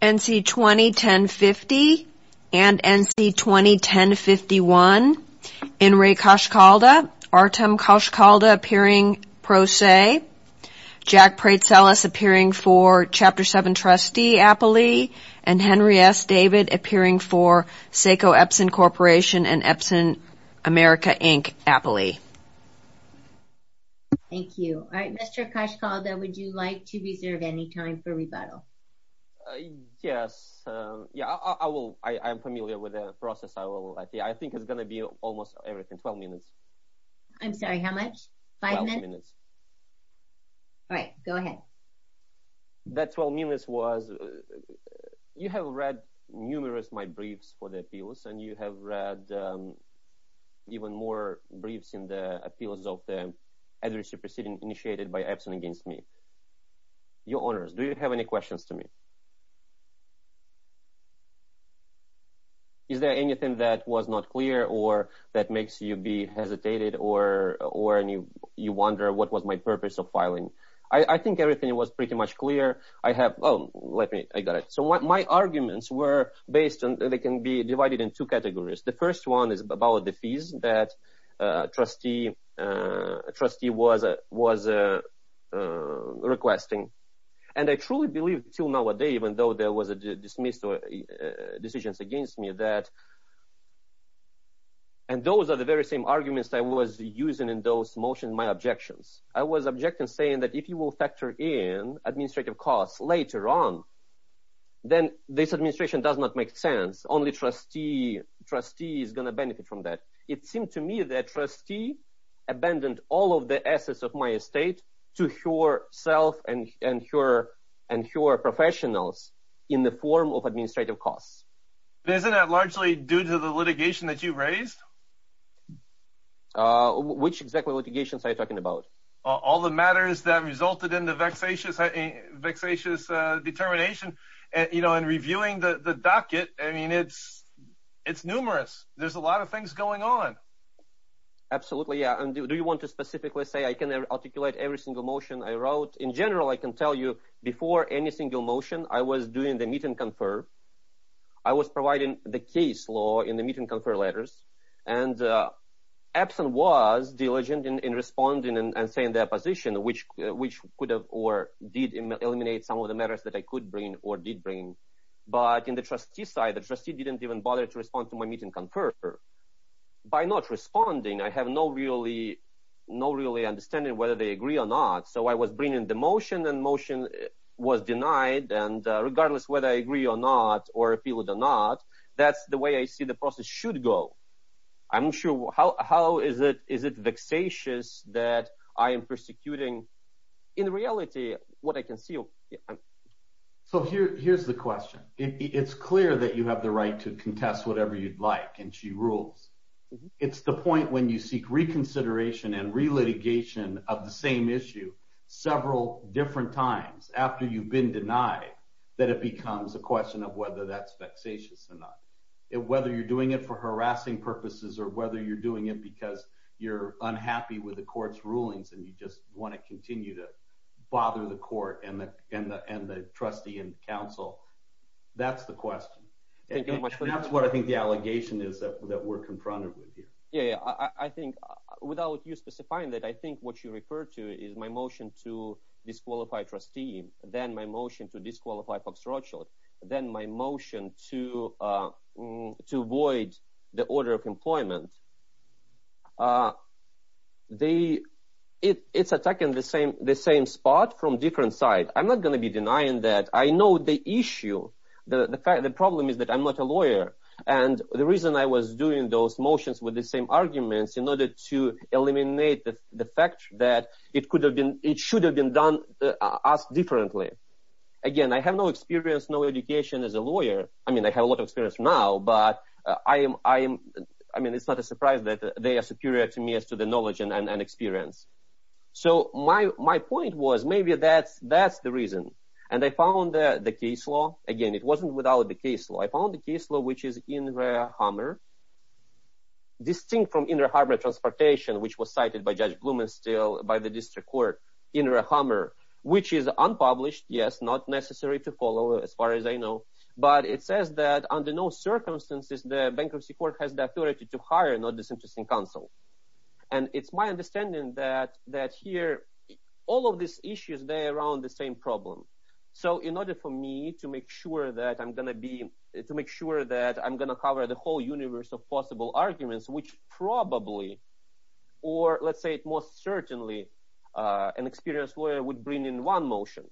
NC201050 and NC201051, Inri Koshkalda, Artem Koshkalda appearing pro se, Jack Pretzelis appearing for Chapter 7 Trustee Appley, and Henry S. David appearing for Seiko Epson Corporation and Epson America Inc. Appley. Thank you. All right, Mr. Koshkalda, would you like to reserve any time for rebuttal? Yes. Yeah, I will. I am familiar with the process. I will. I think it's going to be almost everything. Twelve minutes. I'm sorry, how much? Five minutes? Twelve minutes. All right. Go ahead. That twelve minutes was, you have read numerous of my briefs for the appeals and you have read even more briefs in the appeals of the advocacy proceeding initiated by Epson against me. Your Honors, do you have any questions to me? Is there anything that was not clear or that makes you be hesitated or you wonder what was my purpose of filing? I think everything was pretty much clear. I have, oh, let me, I got it. So my arguments were based on, they can be divided in two categories. The first one is about the fees that trustee was requesting. And I truly believe to know what they, even though there was a dismissal decisions against me that, and those are the very same arguments that I was using in those motions, my objections. I was objecting saying that if you will factor in administrative costs later on, then this administration does not make sense. Only trustee, trustee is going to benefit from that. It seemed to me that trustee abandoned all of the assets of my estate to her self and her and her professionals in the form of administrative costs. But isn't that largely due to the litigation that you raised? Which executive litigation are you talking about? All the matters that resulted in the vexatious, vexatious determination, you know, and reviewing the docket. I mean, it's, it's numerous. There's a lot of things going on. Absolutely. Yeah. And do you want to specifically say I can articulate every single motion I wrote? In general, I can tell you before any single motion, I was doing the meet and confer. I was providing the case law in the meet and confer letters. And Epson was diligent in responding and saying their position, which, which could have or did eliminate some of the matters that I could bring or did bring. But in the trustee side, the trustee didn't even bother to respond to my meet and confer. By not responding, I have no really, no really understanding whether they agree or not. So I was bringing the motion and motion was denied. And regardless whether I agree or not, or if people do not, that's the way I see the process should go. I'm sure how, how is it, is it vexatious that I am persecuting? In reality, what I can see. So here, here's the question. It's clear that you have the right to contest whatever you'd like, and she rules. It's the point when you seek reconsideration and relitigation of the same issue several different times after you've been denied that it becomes a question of whether that's vexatious or not. Whether you're doing it for harassing purposes or whether you're doing it because you're going to continue to bother the court and the, and the, and the trustee and counsel. That's the question. That's what I think the allegation is that we're confronted with here. Yeah. I think without you specifying that, I think what you referred to is my motion to disqualify trustee, then my motion to disqualify Fox Rothschild, then my motion to, to avoid the order of employment. Uh, the, it, it's attacking the same, the same spot from different sides. I'm not going to be denying that. I know the issue, the fact, the problem is that I'm not a lawyer and the reason I was doing those motions with the same arguments in order to eliminate the fact that it could have been, it should have been done as differently. Again, I have no experience, no education as a lawyer. I mean, they have a lot of experience now, but I am, I am, I mean, it's not a surprise that they are superior to me as to the knowledge and, and, and experience. So my, my point was maybe that's, that's the reason. And I found that the case law, again, it wasn't without the case law, I found the case law, which is in the Hummer distinct from inner Harbor transportation, which was cited by judge Blumenstiel by the district court in her Hummer, which is unpublished. Yes. It's not necessary to follow as far as I know, but it says that under no circumstances, the bankruptcy court has the authority to hire and not disinterested in council. And it's my understanding that, that here, all of these issues, they're around the same problem. So in order for me to make sure that I'm going to be, to make sure that I'm going to cover the whole universe of possible arguments, which probably, or let's say it most certainly an experienced lawyer would bring in one motion.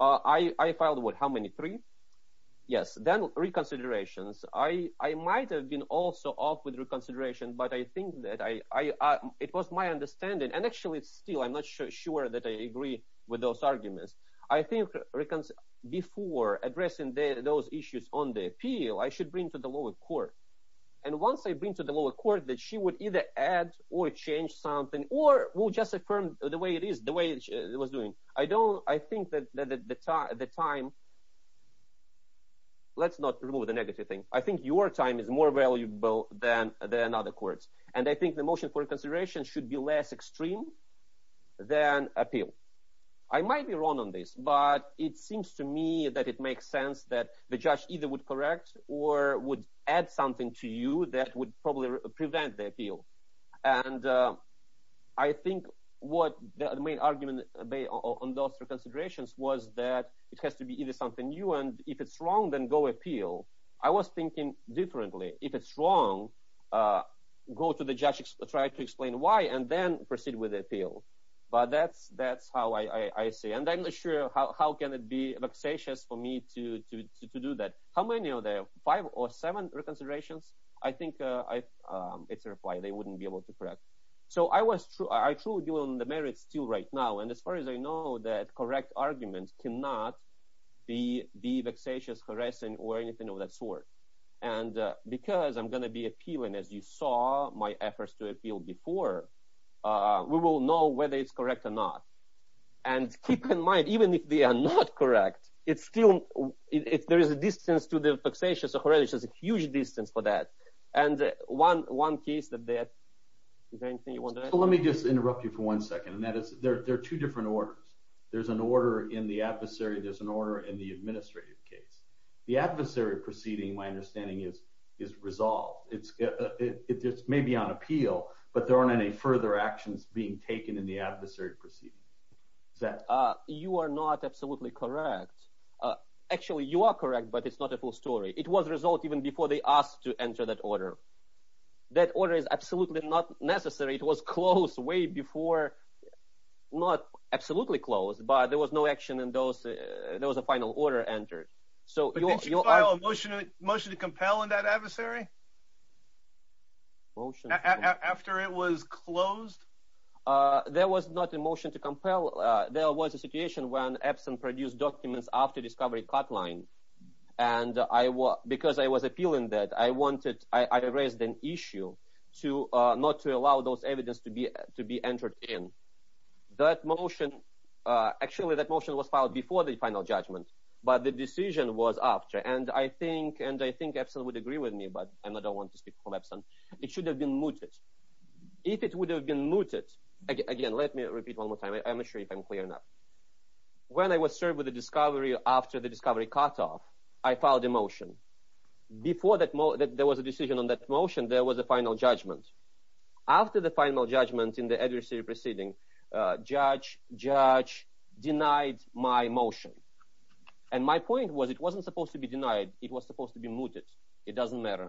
I filed with how many three yes, then reconsiderations. I might've been also off with reconsideration, but I think that I, I, it was my understanding and actually it's still, I'm not sure that I agree with those arguments. I think before addressing those issues on the appeal, I should bring to the lower court. And once I bring to the lower court that she would either add or change something or we'll just affirm the way it is, the way it was doing. I don't, I think that the time, let's not remove the negative thing. I think your time is more valuable than, than other courts. And I think the motion for consideration should be less extreme than appeal. I might be wrong on this, but it seems to me that it makes sense that the judge either would correct or would add something to you that would probably prevent the appeal. And I think what the main argument on those reconsiderations was that it has to be either something new and if it's wrong, then go appeal. I was thinking differently. If it's wrong, go to the judge, try to explain why, and then proceed with the appeal. But that's, that's how I see. And I'm not sure how, how can it be vexatious for me to, to, to, to do that? How many are there? Five or seven reconsiderations? I think I, it's a reply, they wouldn't be able to correct. So I was, I truly believe in the merits still right now. And as far as I know, that correct argument cannot be, be vexatious, harassing or anything of that sort. And because I'm going to be appealing, as you saw my efforts to appeal before, we will know whether it's correct or not. And keep in mind, even if they are not correct, it's still, if there is a distance to the And one, one case that they have, is there anything you want to add? Let me just interrupt you for one second. And that is, there are two different orders. There's an order in the adversary, there's an order in the administrative case. The adversary proceeding, my understanding is, is resolved. It's, it's maybe on appeal, but there aren't any further actions being taken in the adversary proceeding. Is that? You are not absolutely correct. Actually, you are correct, but it's not a full story. It was resolved even before they asked to enter that order. That order is absolutely not necessary. It was closed way before, not absolutely closed, but there was no action in those, there was a final order entered. So did you file a motion, a motion to compel in that adversary? After it was closed? There was not a motion to compel. There was a situation when Epson produced documents after discovery cut line. And I was, because I was appealing that I wanted, I raised an issue to not to allow those evidence to be, to be entered in. That motion, actually, that motion was filed before the final judgment, but the decision was after. And I think, and I think Epson would agree with me, but I'm not, I don't want to speak from Epson. It should have been mooted. If it would have been mooted, again, let me repeat one more time. I'm not sure if I'm clear enough. When I was served with a discovery after the discovery cutoff, I filed a motion. Before that there was a decision on that motion, there was a final judgment. After the final judgment in the adversary proceeding, judge, judge denied my motion. And my point was, it wasn't supposed to be denied. It was supposed to be mooted. It doesn't matter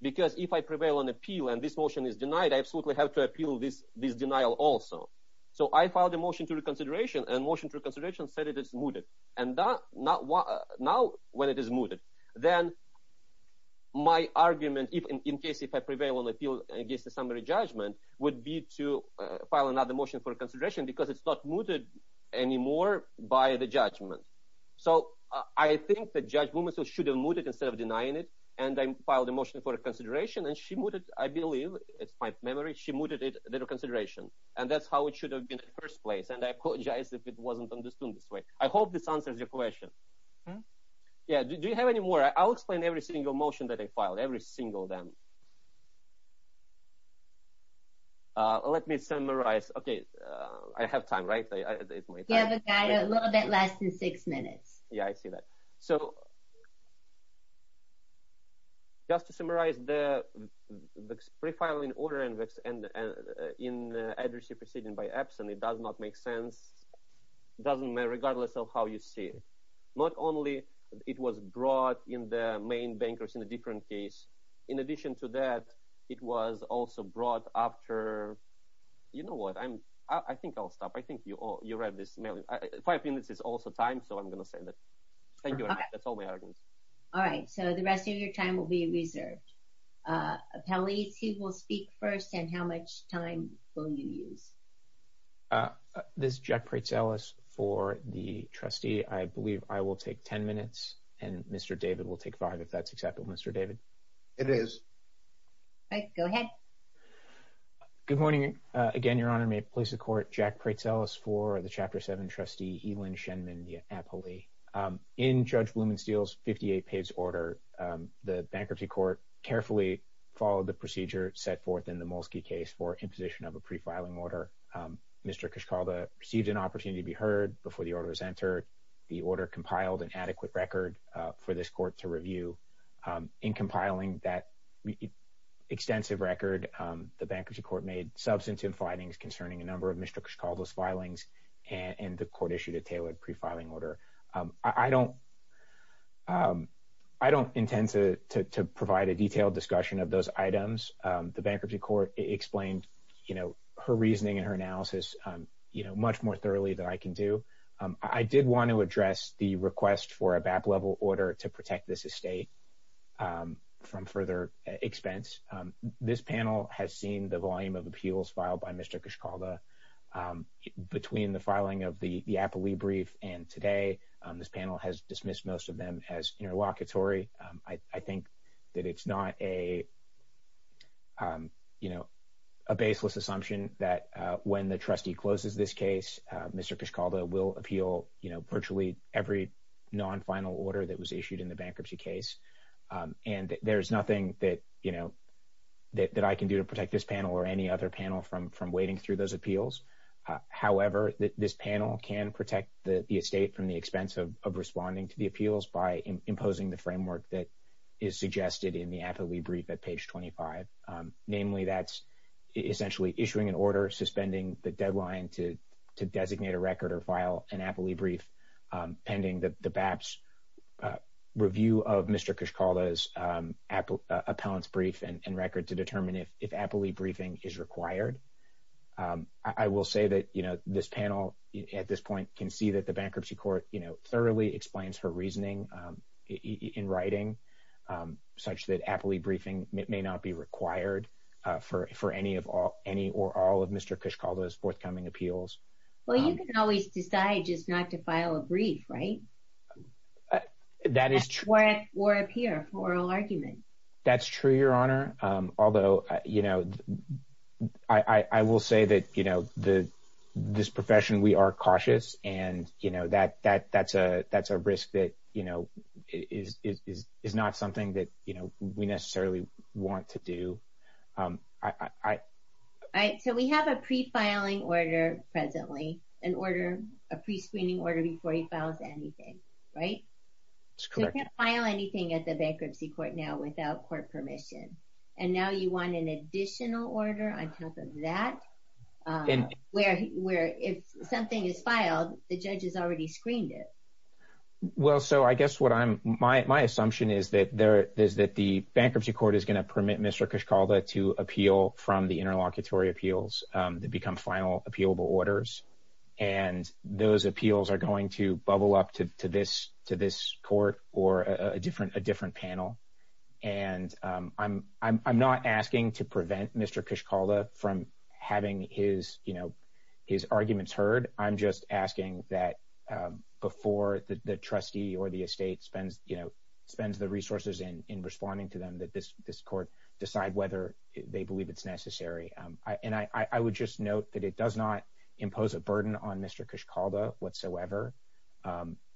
because if I prevail on appeal and this motion is denied, I absolutely have to appeal this, this denial also. So I filed a motion to reconsideration and motion to reconsideration said it is mooted. And now when it is mooted, then my argument, if in case, if I prevail on appeal against the summary judgment, would be to file another motion for consideration because it's not mooted anymore by the judgment. So I think the judge should have mooted instead of denying it. And I filed a motion for consideration and she mooted, I believe, it's my memory. She mooted it, the reconsideration. And that's how it should have been in the first place. And I apologize if it wasn't understood this way. I hope this answers your question. Yeah. Do you have any more? I'll explain every single motion that I filed, every single them. Let me summarize. Okay. I have time, right? You have a little bit less than six minutes. Yeah, I see that. So just to summarize the pre-filing order and in the addressee proceeding by absent, it does not make sense, doesn't matter regardless of how you see it. Not only it was brought in the main bankers in a different case. In addition to that, it was also brought after, you know what? I think I'll stop. I think you read this mail. Five minutes is also time. So I'm going to say that. Thank you. And that's all we have. All right. So the rest of your time will be reserved. Appellees, he will speak first. And how much time will you use? This is Jack Pretzeles for the trustee. I believe I will take 10 minutes and Mr. David will take five, if that's acceptable, Mr. David. It is. Right. Go ahead. Good morning again, Your Honor. May it please the court. Jack Pretzeles for the chapter seven trustee, Elin Shenmendia-Appley. In Judge Blumensteel's 58 page order, the bankruptcy court carefully followed the procedure set forth in the Molsky case for imposition of a pre-filing order. Mr. Kishkalda received an opportunity to be heard before the order was entered. The order compiled an adequate record for this court to review. In compiling that extensive record, the bankruptcy court made substantive findings concerning a number of Mr. Kishkalda's filings and the court issued a tailored pre-filing order. I don't intend to provide a detailed discussion of those items. The bankruptcy court explained her reasoning and her analysis much more thoroughly than I can do. I did want to address the request for a BAP level order to protect this estate from further expense. This panel has seen the volume of appeals filed by Mr. Kishkalda between the filing of the Appley brief and today. This panel has dismissed most of them as interlocutory. I think that it's not a baseless assumption that when the trustee closes this case, Mr. Kishkalda will appeal virtually every non-final order that was issued in the bankruptcy case. And there's nothing that I can do to protect this panel or any other panel from wading through those appeals. However, this panel can protect the estate from the expense of responding to the appeals by imposing the framework that is suggested in the Appley brief at page 25. Namely, that's essentially issuing an order suspending the deadline to designate a record or file an Appley brief pending the BAP's review of Mr. Kishkalda's appellant's brief and record to determine if Appley briefing is required. I will say that this panel at this point can see that the bankruptcy court thoroughly explains her reasoning in writing such that Appley briefing may not be required for any or all of Mr. Kishkalda's forthcoming appeals. Well, you can always decide just not to file a brief, right? That is true. Or appear for oral argument. That's true, Your Honor. Although, you know, I will say that, you know, this profession, we are cautious. And, you know, that's a risk that, you know, is not something that, you know, we necessarily want to do. All right. So we have a pre-filing order presently, an order, a pre-screening order before he files anything, right? That's correct. You can't file anything at the bankruptcy court now without court permission. And now you want an additional order on top of that where if something is filed, the judge has already screened it. Well, so I guess what I'm, my assumption is that there is that the bankruptcy court is going to permit Mr. Kishkalda to appeal from the interlocutory appeals that become final appealable orders. And those appeals are going to bubble up to this court or a different panel. And I'm not asking to prevent Mr. Kishkalda from having his, you know, his arguments heard. I'm just asking that before the trustee or the estate spends, you know, spends the resources in responding to them that this court decide whether they believe it's necessary. And I would just note that it does not impose a burden on Mr. Kishkalda whatsoever.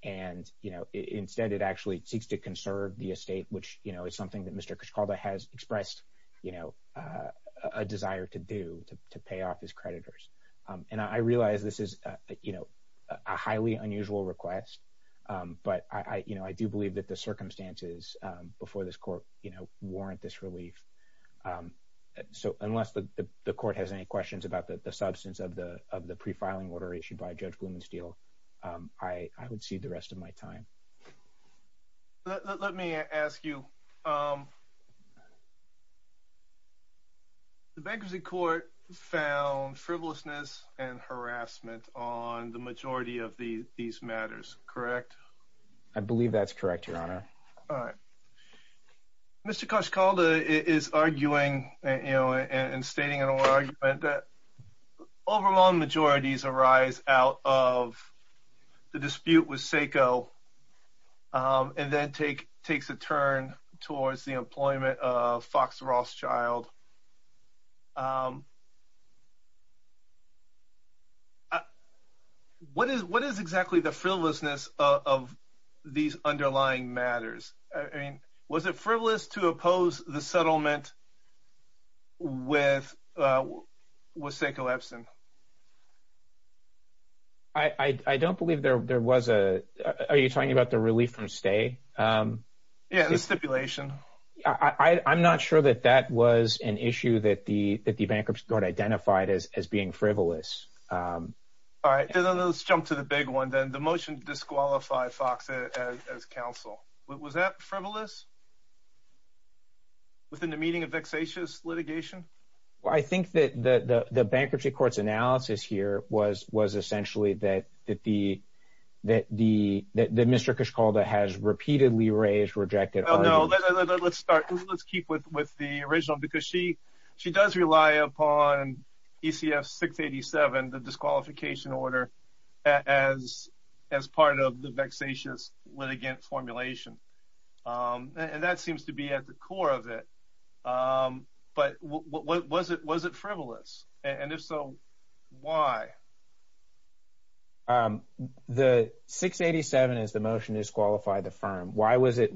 And, you know, instead, it actually seeks to conserve the estate, which, you know, is something that Mr. Kishkalda has expressed, you know, a desire to do to pay off his creditors. And I realize this is, you know, a highly unusual request. But I, you know, I do believe that the circumstances before this court, you know, warrant this relief. So unless the court has any questions about the substance of the pre-filing order issued by Judge Blumensteel, I would cede the rest of my time. Let me ask you. The Bankruptcy Court found frivolousness and harassment on the majority of these matters, correct? I believe that's correct, Your Honor. All right. Mr. Kishkalda is arguing, you know, and stating in an argument that overwhelming majorities arise out of the dispute with SACO and then takes a turn towards the employment of Fox Rothschild. What is exactly the frivolousness of these underlying matters? Was it frivolous to oppose the settlement with SACO Epson? I don't believe there was a — are you talking about the relief from stay? Yeah, the stipulation. I'm not sure that that was an issue that the Bankruptcy Court identified as being frivolous. All right, then let's jump to the big one, then. The motion to disqualify Fox as counsel. Was that frivolous? Within the meaning of vexatious litigation? Well, I think that the Bankruptcy Court's analysis here was essentially that Mr. Kishkalda has repeatedly raised, rejected — No, no, let's start. Let's keep with the original, because she does rely upon ECF 687, the disqualification order, as part of the vexatious litigation formulation. And that seems to be at the core of it. But was it frivolous? And if so, why? The 687 is the motion to disqualify the firm. Why was it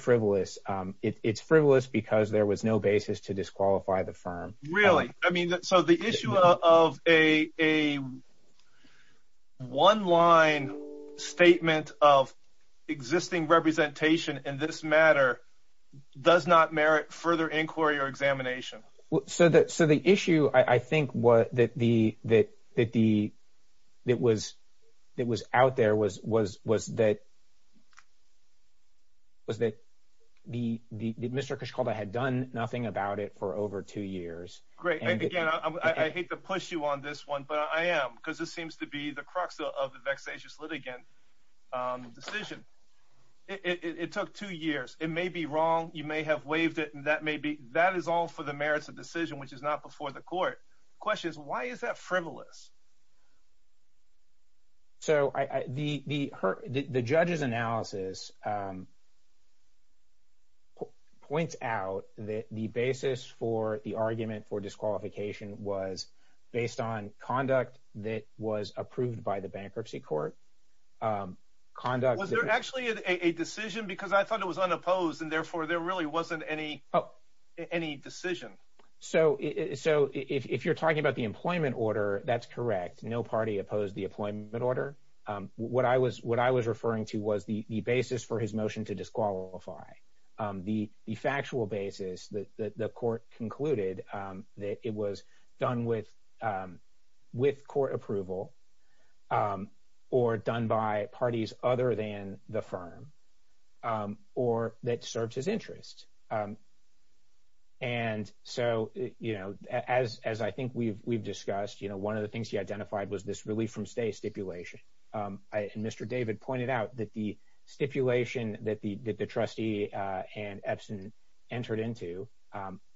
frivolous? It's frivolous because there was no basis to disqualify the firm. Really? I mean, so the issue of a one-line statement of existing representation in this matter does not merit further inquiry or examination. So the issue, I think, that was out there was that Mr. Kishkalda had done nothing about it for over two years. Great. And again, I hate to push you on this one, but I am, because this seems to be the crux of the vexatious litigant decision. It took two years. It may be wrong. You may have waived it, and that is all for the merits of decision, which is not before the court. Question is, why is that frivolous? So the judge's analysis points out that the basis for the argument for disqualification was based on conduct that was approved by the bankruptcy court. Was there actually a decision? Because I thought it was unopposed, and therefore there really wasn't any decision. So if you're talking about the employment order, that's correct. No party opposed the employment order. What I was referring to was the basis for his motion to disqualify, the factual basis that the court concluded that it was done with court approval or done by parties other than the firm or that served his interest. As I think we've discussed, one of the things he identified was this relief from stay stipulation. Mr. David pointed out that the stipulation that the trustee and Epson entered into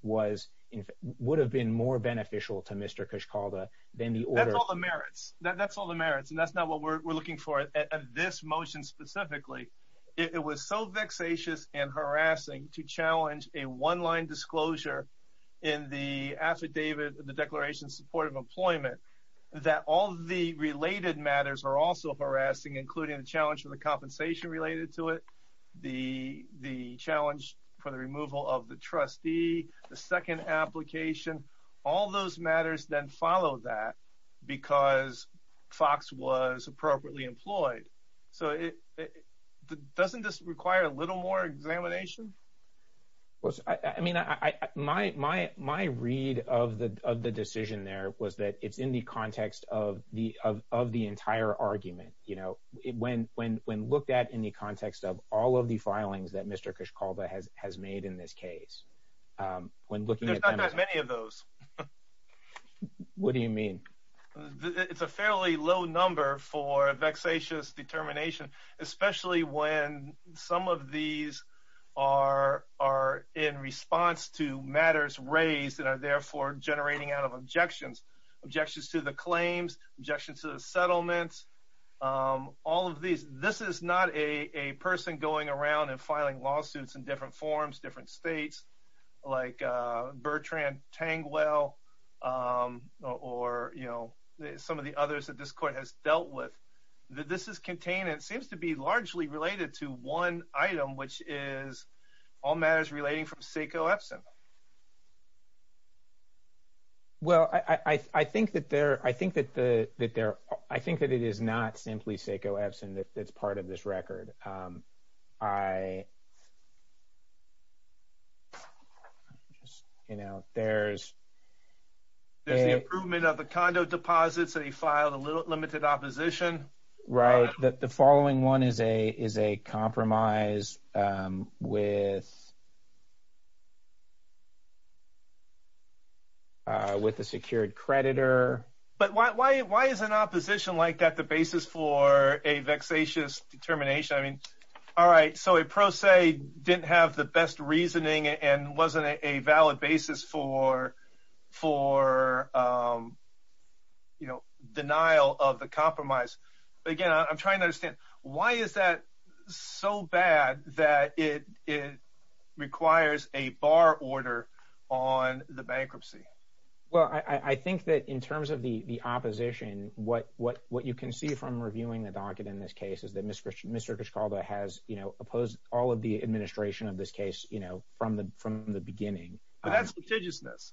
would have been more beneficial to Mr. Cushcalda than the order. That's all the merits. That's all the merits, and that's not what we're looking for at this motion specifically. It was so vexatious and harassing to challenge a one-line disclosure in the affidavit, the also harassing, including the challenge of the compensation related to it, the challenge for the removal of the trustee, the second application. All those matters then follow that because Fox was appropriately employed. So doesn't this require a little more examination? Well, I mean, my read of the decision there was that it's in the context of the entire argument. When looked at in the context of all of the filings that Mr. Cushcalda has made in this case, when looking at them— There's not that many of those. What do you mean? It's a fairly low number for a vexatious determination, especially when some of these are in response to matters raised and are therefore generating out of objections, objections to the claims, objections to the settlements, all of these. This is not a person going around and filing lawsuits in different forms, different states, like Bertrand Tangwell or some of the others that this court has dealt with. This is contained and seems to be largely related to one item, which is all matters relating from Seiko Epson. Well, I think that it is not simply Seiko Epson that's part of this record. You know, there's— Right. That the following one is a compromise with a secured creditor. But why is an opposition like that the basis for a vexatious determination? I mean, all right, so a pro se didn't have the best reasoning and wasn't a valid basis for, you know, denial of the compromise. But again, I'm trying to understand, why is that so bad that it requires a bar order on the bankruptcy? Well, I think that in terms of the opposition, what you can see from reviewing the docket in this case is that Mr. Kishkalda has, you know, opposed all of the administration of this case, you know, from the beginning. But that's litigiousness.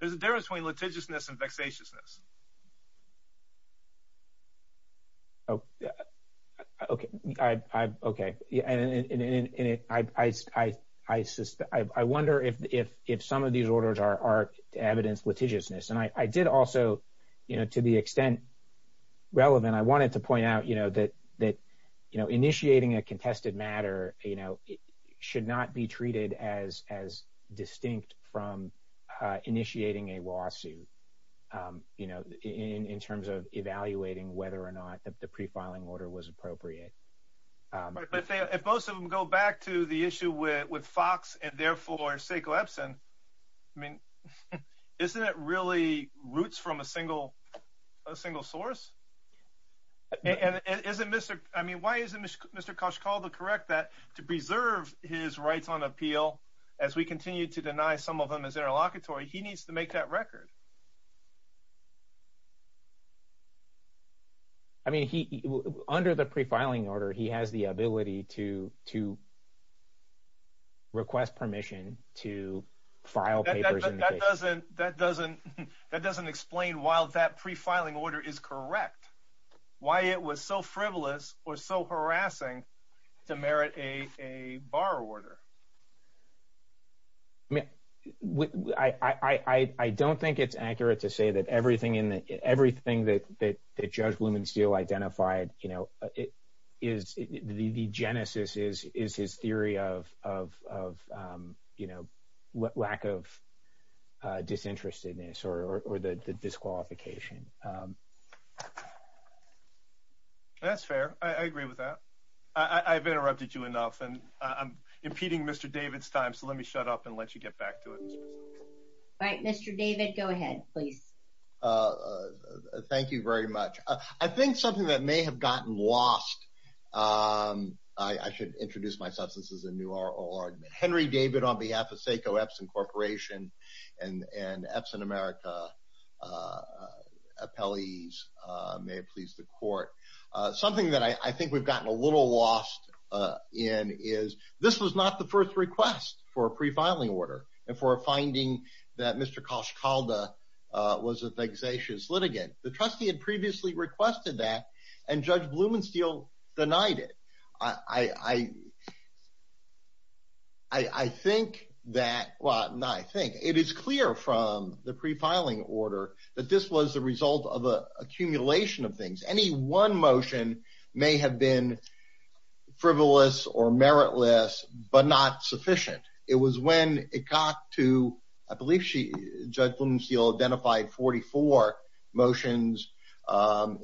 There's a difference between litigiousness and vexatiousness. Oh, okay. I wonder if some of these orders are evidence litigiousness. And I did also, you know, to the extent relevant, I wanted to point out, you know, that, you know, initiating a contested matter, you know, should not be treated as distinct from initiating a lawsuit, you know, in terms of evaluating whether or not the pre-filing order was appropriate. But if most of them go back to the issue with Fox and therefore, say, Glebson, I mean, isn't it really roots from a single source? And isn't Mr. I mean, why isn't Mr. Kishkalda correct that to preserve his rights on appeal as we continue to deny some of them as interlocutory, he needs to make that record? I mean, he, under the pre-filing order, he has the ability to request permission to file papers in the case. That doesn't explain why that pre-filing order is correct, why it was so frivolous or so harassing to merit a bar order. I mean, I don't think it's accurate to say that everything that Judge Blumensteel identified, you know, the genesis is his theory of, you know, lack of disinterestedness or the disqualification. That's fair. I agree with that. I've interrupted you enough and I'm impeding Mr. David's time. So let me shut up and let you get back to it. Right. Mr. David, go ahead, please. Thank you very much. I think something that may have gotten lost, I should introduce myself, this is a new argument. Henry David on behalf of SACO Epson Corporation and Epson America appellees, may it please the court. Something that I think we've gotten a little lost in is this was not the first request for a pre-filing order and for a finding that Mr. Kishkalda was a vexatious litigant. The trustee had previously requested that and Judge Blumensteel denied it. I think that, well, not I think, it is clear from the pre-filing order that this was the result of an accumulation of things. Any one motion may have been frivolous or meritless, but not sufficient. It was when it got to, I believe Judge Blumensteel identified 44 motions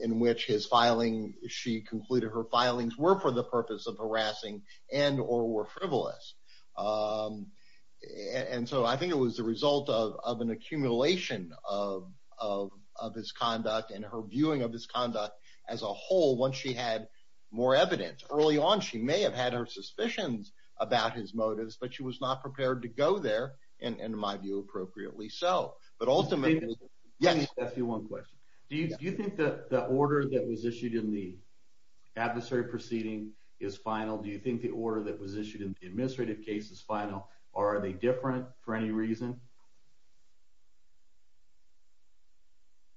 in which his filing, she concluded her filings were for the purpose of harassing and or were frivolous. So I think it was the result of an accumulation of his conduct and her viewing of his conduct as a whole once she had more evidence. Early on, she may have had her suspicions about his motives, but she was not prepared to go there, and in my view, appropriately so. Do you think that the order that was issued in the adversary proceeding is final? Do you think the order that was issued in the administrative case is final or are they different for any reason?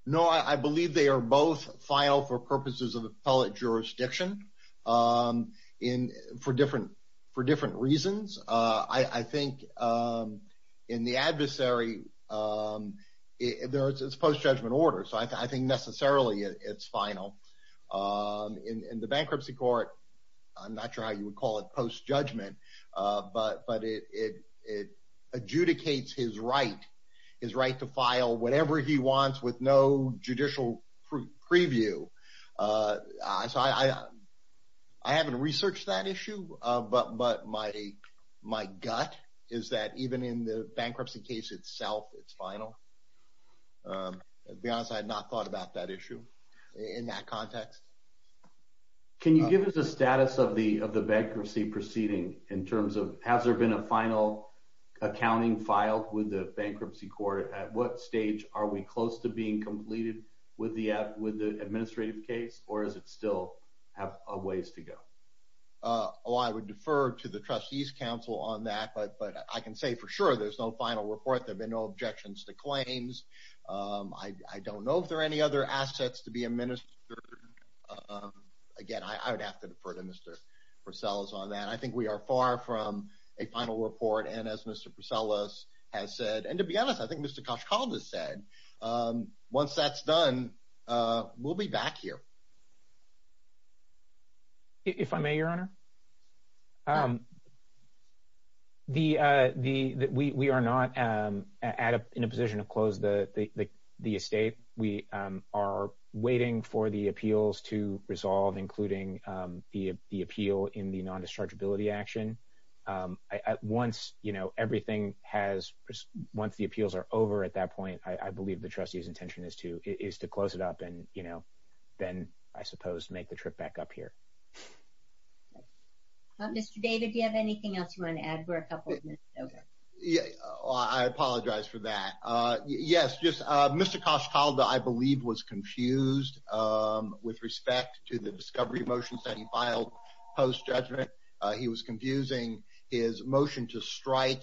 No, I believe they are both final for purposes of appellate jurisdiction. For different reasons. I think in the adversary, it's post-judgment order, so I think necessarily it's final. In the bankruptcy court, I'm not sure how you would call it post-judgment, but it adjudicates his right, his right to file whatever he wants with no judicial preview. So I haven't researched that issue, but my gut is that even in the bankruptcy case itself, it's final. To be honest, I had not thought about that issue in that context. Can you give us the status of the bankruptcy proceeding in terms of has there been a final accounting filed with the bankruptcy court? At what stage are we close to being completed with the administrative case, or does it still have a ways to go? Oh, I would defer to the Trustees Council on that, but I can say for sure there's no final report. There have been no objections to claims. I don't know if there are any other assets to be administered. Again, I would have to defer to Mr. Porcellis on that. I think we are far from a final report, and as Mr. Porcellis has said, and to be honest, I think Mr. Koshkald has said, once that's done, we'll be back here. If I may, Your Honor, we are not in a position to close the estate. We are waiting for the appeals to resolve, including the appeal in the non-dischargeability action. At once, everything has, once the appeals are over at that point, I believe the Trustee's intention is to close it up and then, I suppose, make the trip back up here. Mr. David, do you have anything else you want to add? We're a couple of minutes over. I apologize for that. Yes, just Mr. Koshkald, I believe, was confused with respect to the discovery motions that he filed post-judgment. He was confusing his motion to strike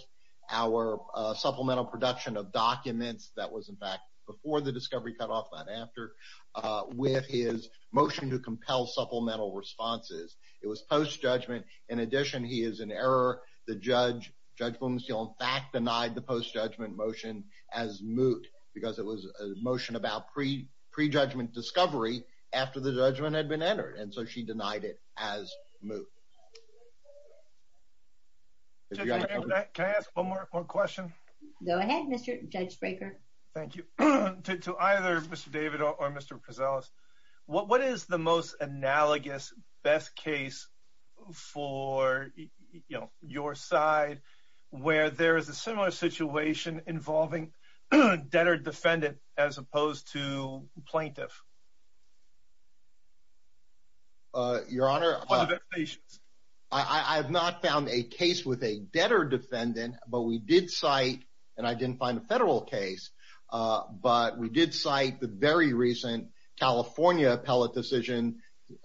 our supplemental production of documents that was, in fact, before the discovery cutoff, not after, with his motion to compel supplemental responses. It was post-judgment. In addition, he is in error. The judge, Judge Bloomsteel, in fact, denied the post-judgment motion as moot because it was a motion about pre-judgment discovery after the judgment had been entered, and so she denied it as moot. Judge, can I ask one more question? Go ahead, Mr. Judge Braker. Thank you. To either Mr. David or Mr. Prezelis, what is the most analogous best case for, you know, your side where there is a similar situation involving a debtor-defendant as opposed to plaintiff? Your Honor, I have not found a case with a debtor-defendant, but we did cite, and I didn't find a federal case, but we did cite the very recent California appellate decision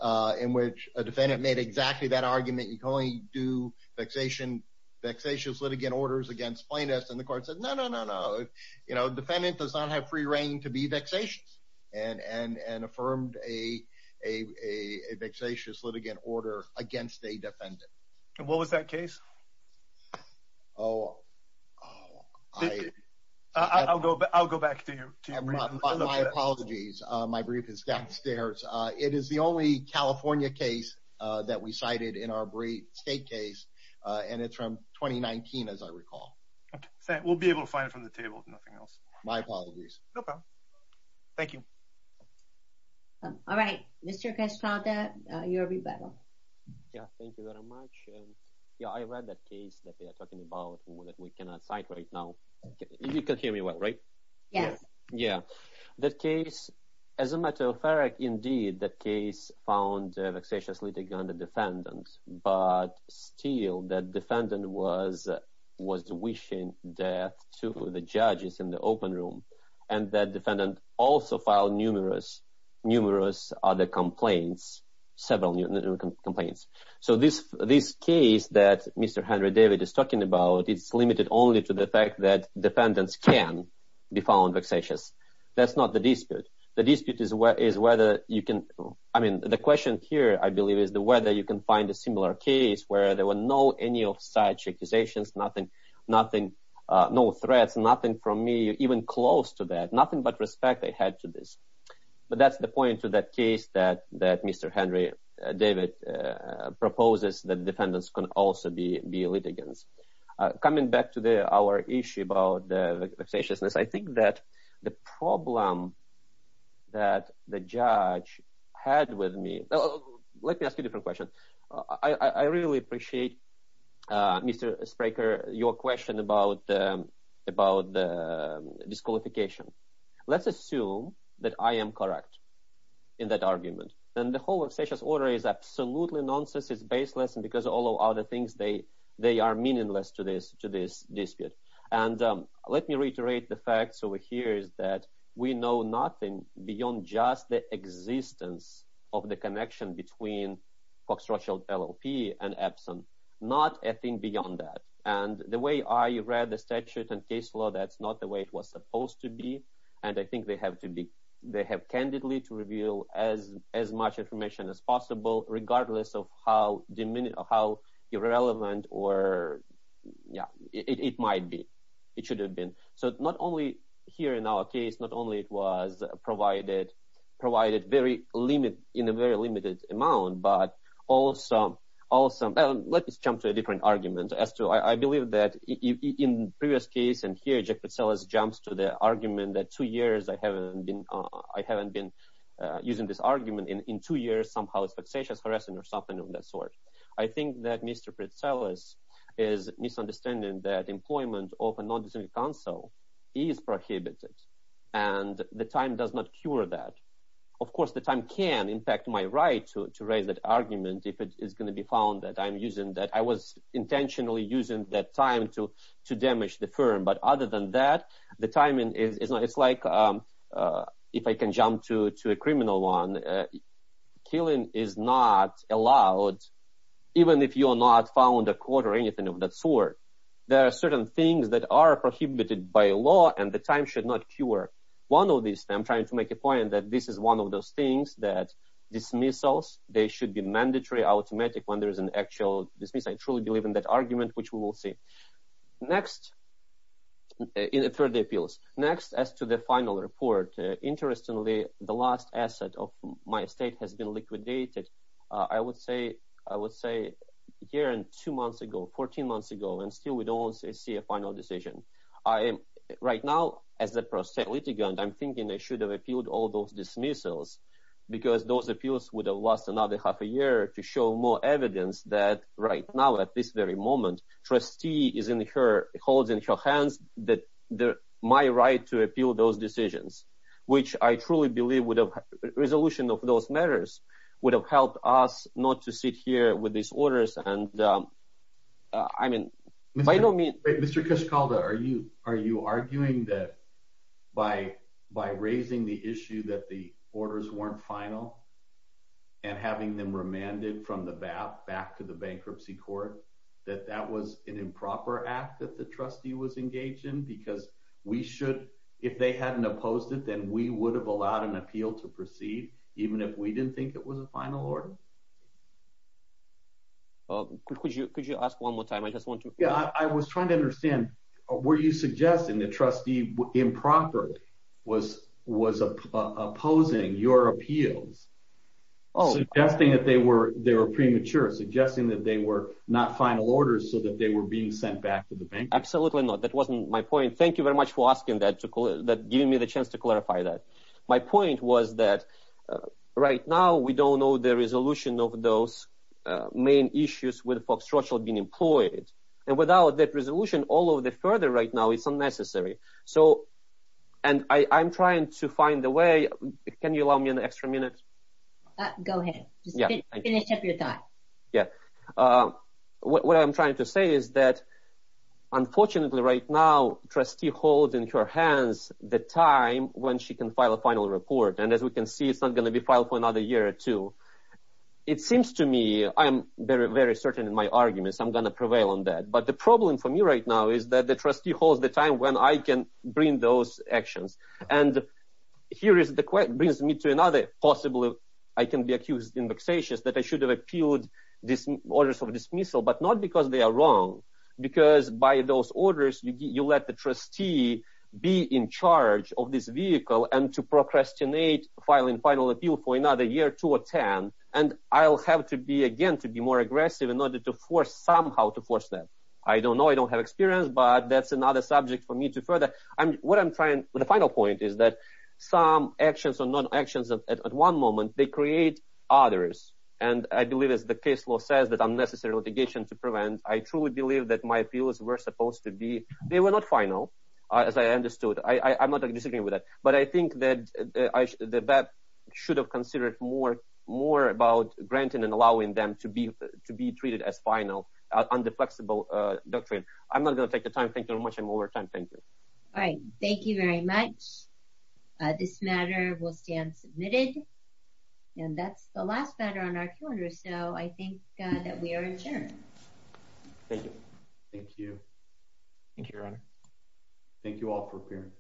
in which a defendant made exactly that argument, you can only do vexatious litigant orders against plaintiffs, and the court said, no, no, no, no, you know, defendant does not have free reign to be vexatious. And affirmed a vexatious litigant order against a defendant. And what was that case? Oh, I'll go back to you. My apologies, my brief is downstairs. It is the only California case that we cited in our state case, and it's from 2019, as I recall. We'll be able to find it from the table, if nothing else. My apologies. No problem. Thank you. All right. Mr. Cascada, your rebuttal. Yeah, thank you very much. Yeah, I read that case that they are talking about that we cannot cite right now. You can hear me well, right? Yes. Yeah. That case, as a matter of fact, indeed, that case found a vexatious litigant on the defendant, but still, that defendant was wishing death to the judges in the open room. And that defendant also filed numerous other complaints, several new complaints. So this case that Mr. Henry David is talking about, it's limited only to the fact that defendants can be found vexatious. That's not the dispute. The dispute is whether you can, I mean, the question here, I believe, is whether you can find a similar case where there were no any of such accusations, nothing, no threats, nothing from me, even close to that, nothing but respect I had to this. But that's the point to that case that Mr. Henry David proposes that defendants can also be litigants. Coming back to our issue about the vexatiousness, I think that the problem that the judge had with me, let me ask you a different question. I really appreciate, Mr. Spraker, your question about the disqualification. Let's assume that I am correct in that argument. And the whole vexatious order is absolutely nonsense. It's baseless. And because all of other things, they are meaningless to this dispute. And let me reiterate the facts over here is that we know nothing beyond just the existence of the connection between Fox Rothschild LLP and Epson. Not a thing beyond that. And the way I read the statute and case law, that's not the way it was supposed to be. And I think they have to be, they have candidly to reveal as much information as possible, regardless of how irrelevant or, yeah, it might be. It should have been. So not only here in our case, not only it was provided in a very limited amount, but also, let me jump to a different argument as to, I believe that in the previous case, and here Jack Pretzeles jumps to the argument that two years I haven't been using this argument, and in two years, somehow it's vexatious harassing or something of that sort. I think that Mr. Pretzeles is misunderstanding that employment of a non-disciplinary counsel is prohibited. And the time does not cure that. Of course, the time can impact my right to raise that argument if it is going to be found that I'm using that, I was intentionally using that time to damage the firm. But other than that, the timing is, it's like, if I can jump to a criminal one, killing is not allowed, even if you're not found a court or anything of that sort. There are certain things that are prohibited by law and the time should not cure. One of these, I'm trying to make a point that this is one of those things that dismissals, they should be mandatory, automatic when there is an actual dismissal. I truly believe in that argument, which we will see. Next, in the third appeals, next as to the final report. Interestingly, the last asset of my estate has been liquidated. I would say, I would say here in two months ago, 14 months ago, and still we don't see a final decision. I am right now as a prosecutor litigant, I'm thinking they should have appealed all those dismissals because those appeals would have lost another half a year to show more evidence that right now at this very moment, trustee is in her holding her hands, that my right to appeal those decisions. Which I truly believe would have resolution of those matters would have helped us not to sit here with these orders. And I mean, I don't mean, Mr. Kishkalda, are you, are you arguing that by, by raising the issue that the orders weren't final and having them remanded from the back to the bankruptcy court, that that was an improper act that the trustee was engaged in because we should, if they hadn't opposed it, then we would have allowed an appeal to proceed. Even if we didn't think it was a final order. Oh, could you, could you ask one more time? I just want to. Yeah, I was trying to understand, were you suggesting that trustee improper was, was opposing your appeals? Oh, suggesting that they were, they were premature, suggesting that they were not final orders so that they were being sent back to the bank. Absolutely not. That wasn't my point. Thank you very much for asking that to give me the chance to clarify that. My point was that right now we don't know the resolution of those main issues with Fox Churchill being employed. And without that resolution, all of the further right now, it's unnecessary. So, and I, I'm trying to find the way, can you allow me an extra minute? Go ahead. Just finish up your thought. Yeah. What I'm trying to say is that unfortunately right now trustee holds in her hands the time when she can file a final report. And as we can see, it's not going to be filed for another year or two. It seems to me, I'm very, very certain in my arguments. I'm going to prevail on that. But the problem for me right now is that the trustee holds the time when I can bring those actions. And here is the question brings me to another possible. I can be accused in vexatious that I should have appealed this orders of dismissal, not because they are wrong, because by those orders, you let the trustee be in charge of this vehicle and to procrastinate filing final appeal for another year, two or 10. And I'll have to be again, to be more aggressive in order to force somehow to force that. I don't know. I don't have experience, but that's another subject for me to further. I'm what I'm trying. The final point is that some actions or non actions at one moment, they create others. And I believe, as the case law says, that unnecessary litigation to prevent. I truly believe that my appeals were supposed to be. They were not final, as I understood. I'm not disagreeing with that. But I think that that should have considered more, more about granting and allowing them to be to be treated as final under flexible doctrine. I'm not going to take the time. Thank you very much. I'm over time. Thank you. All right. Thank you very much. This matter will stand submitted. And that's the last matter on our calendar. So I think that we are adjourned. Thank you. Thank you. Thank you, Your Honor. Thank you all for appearing.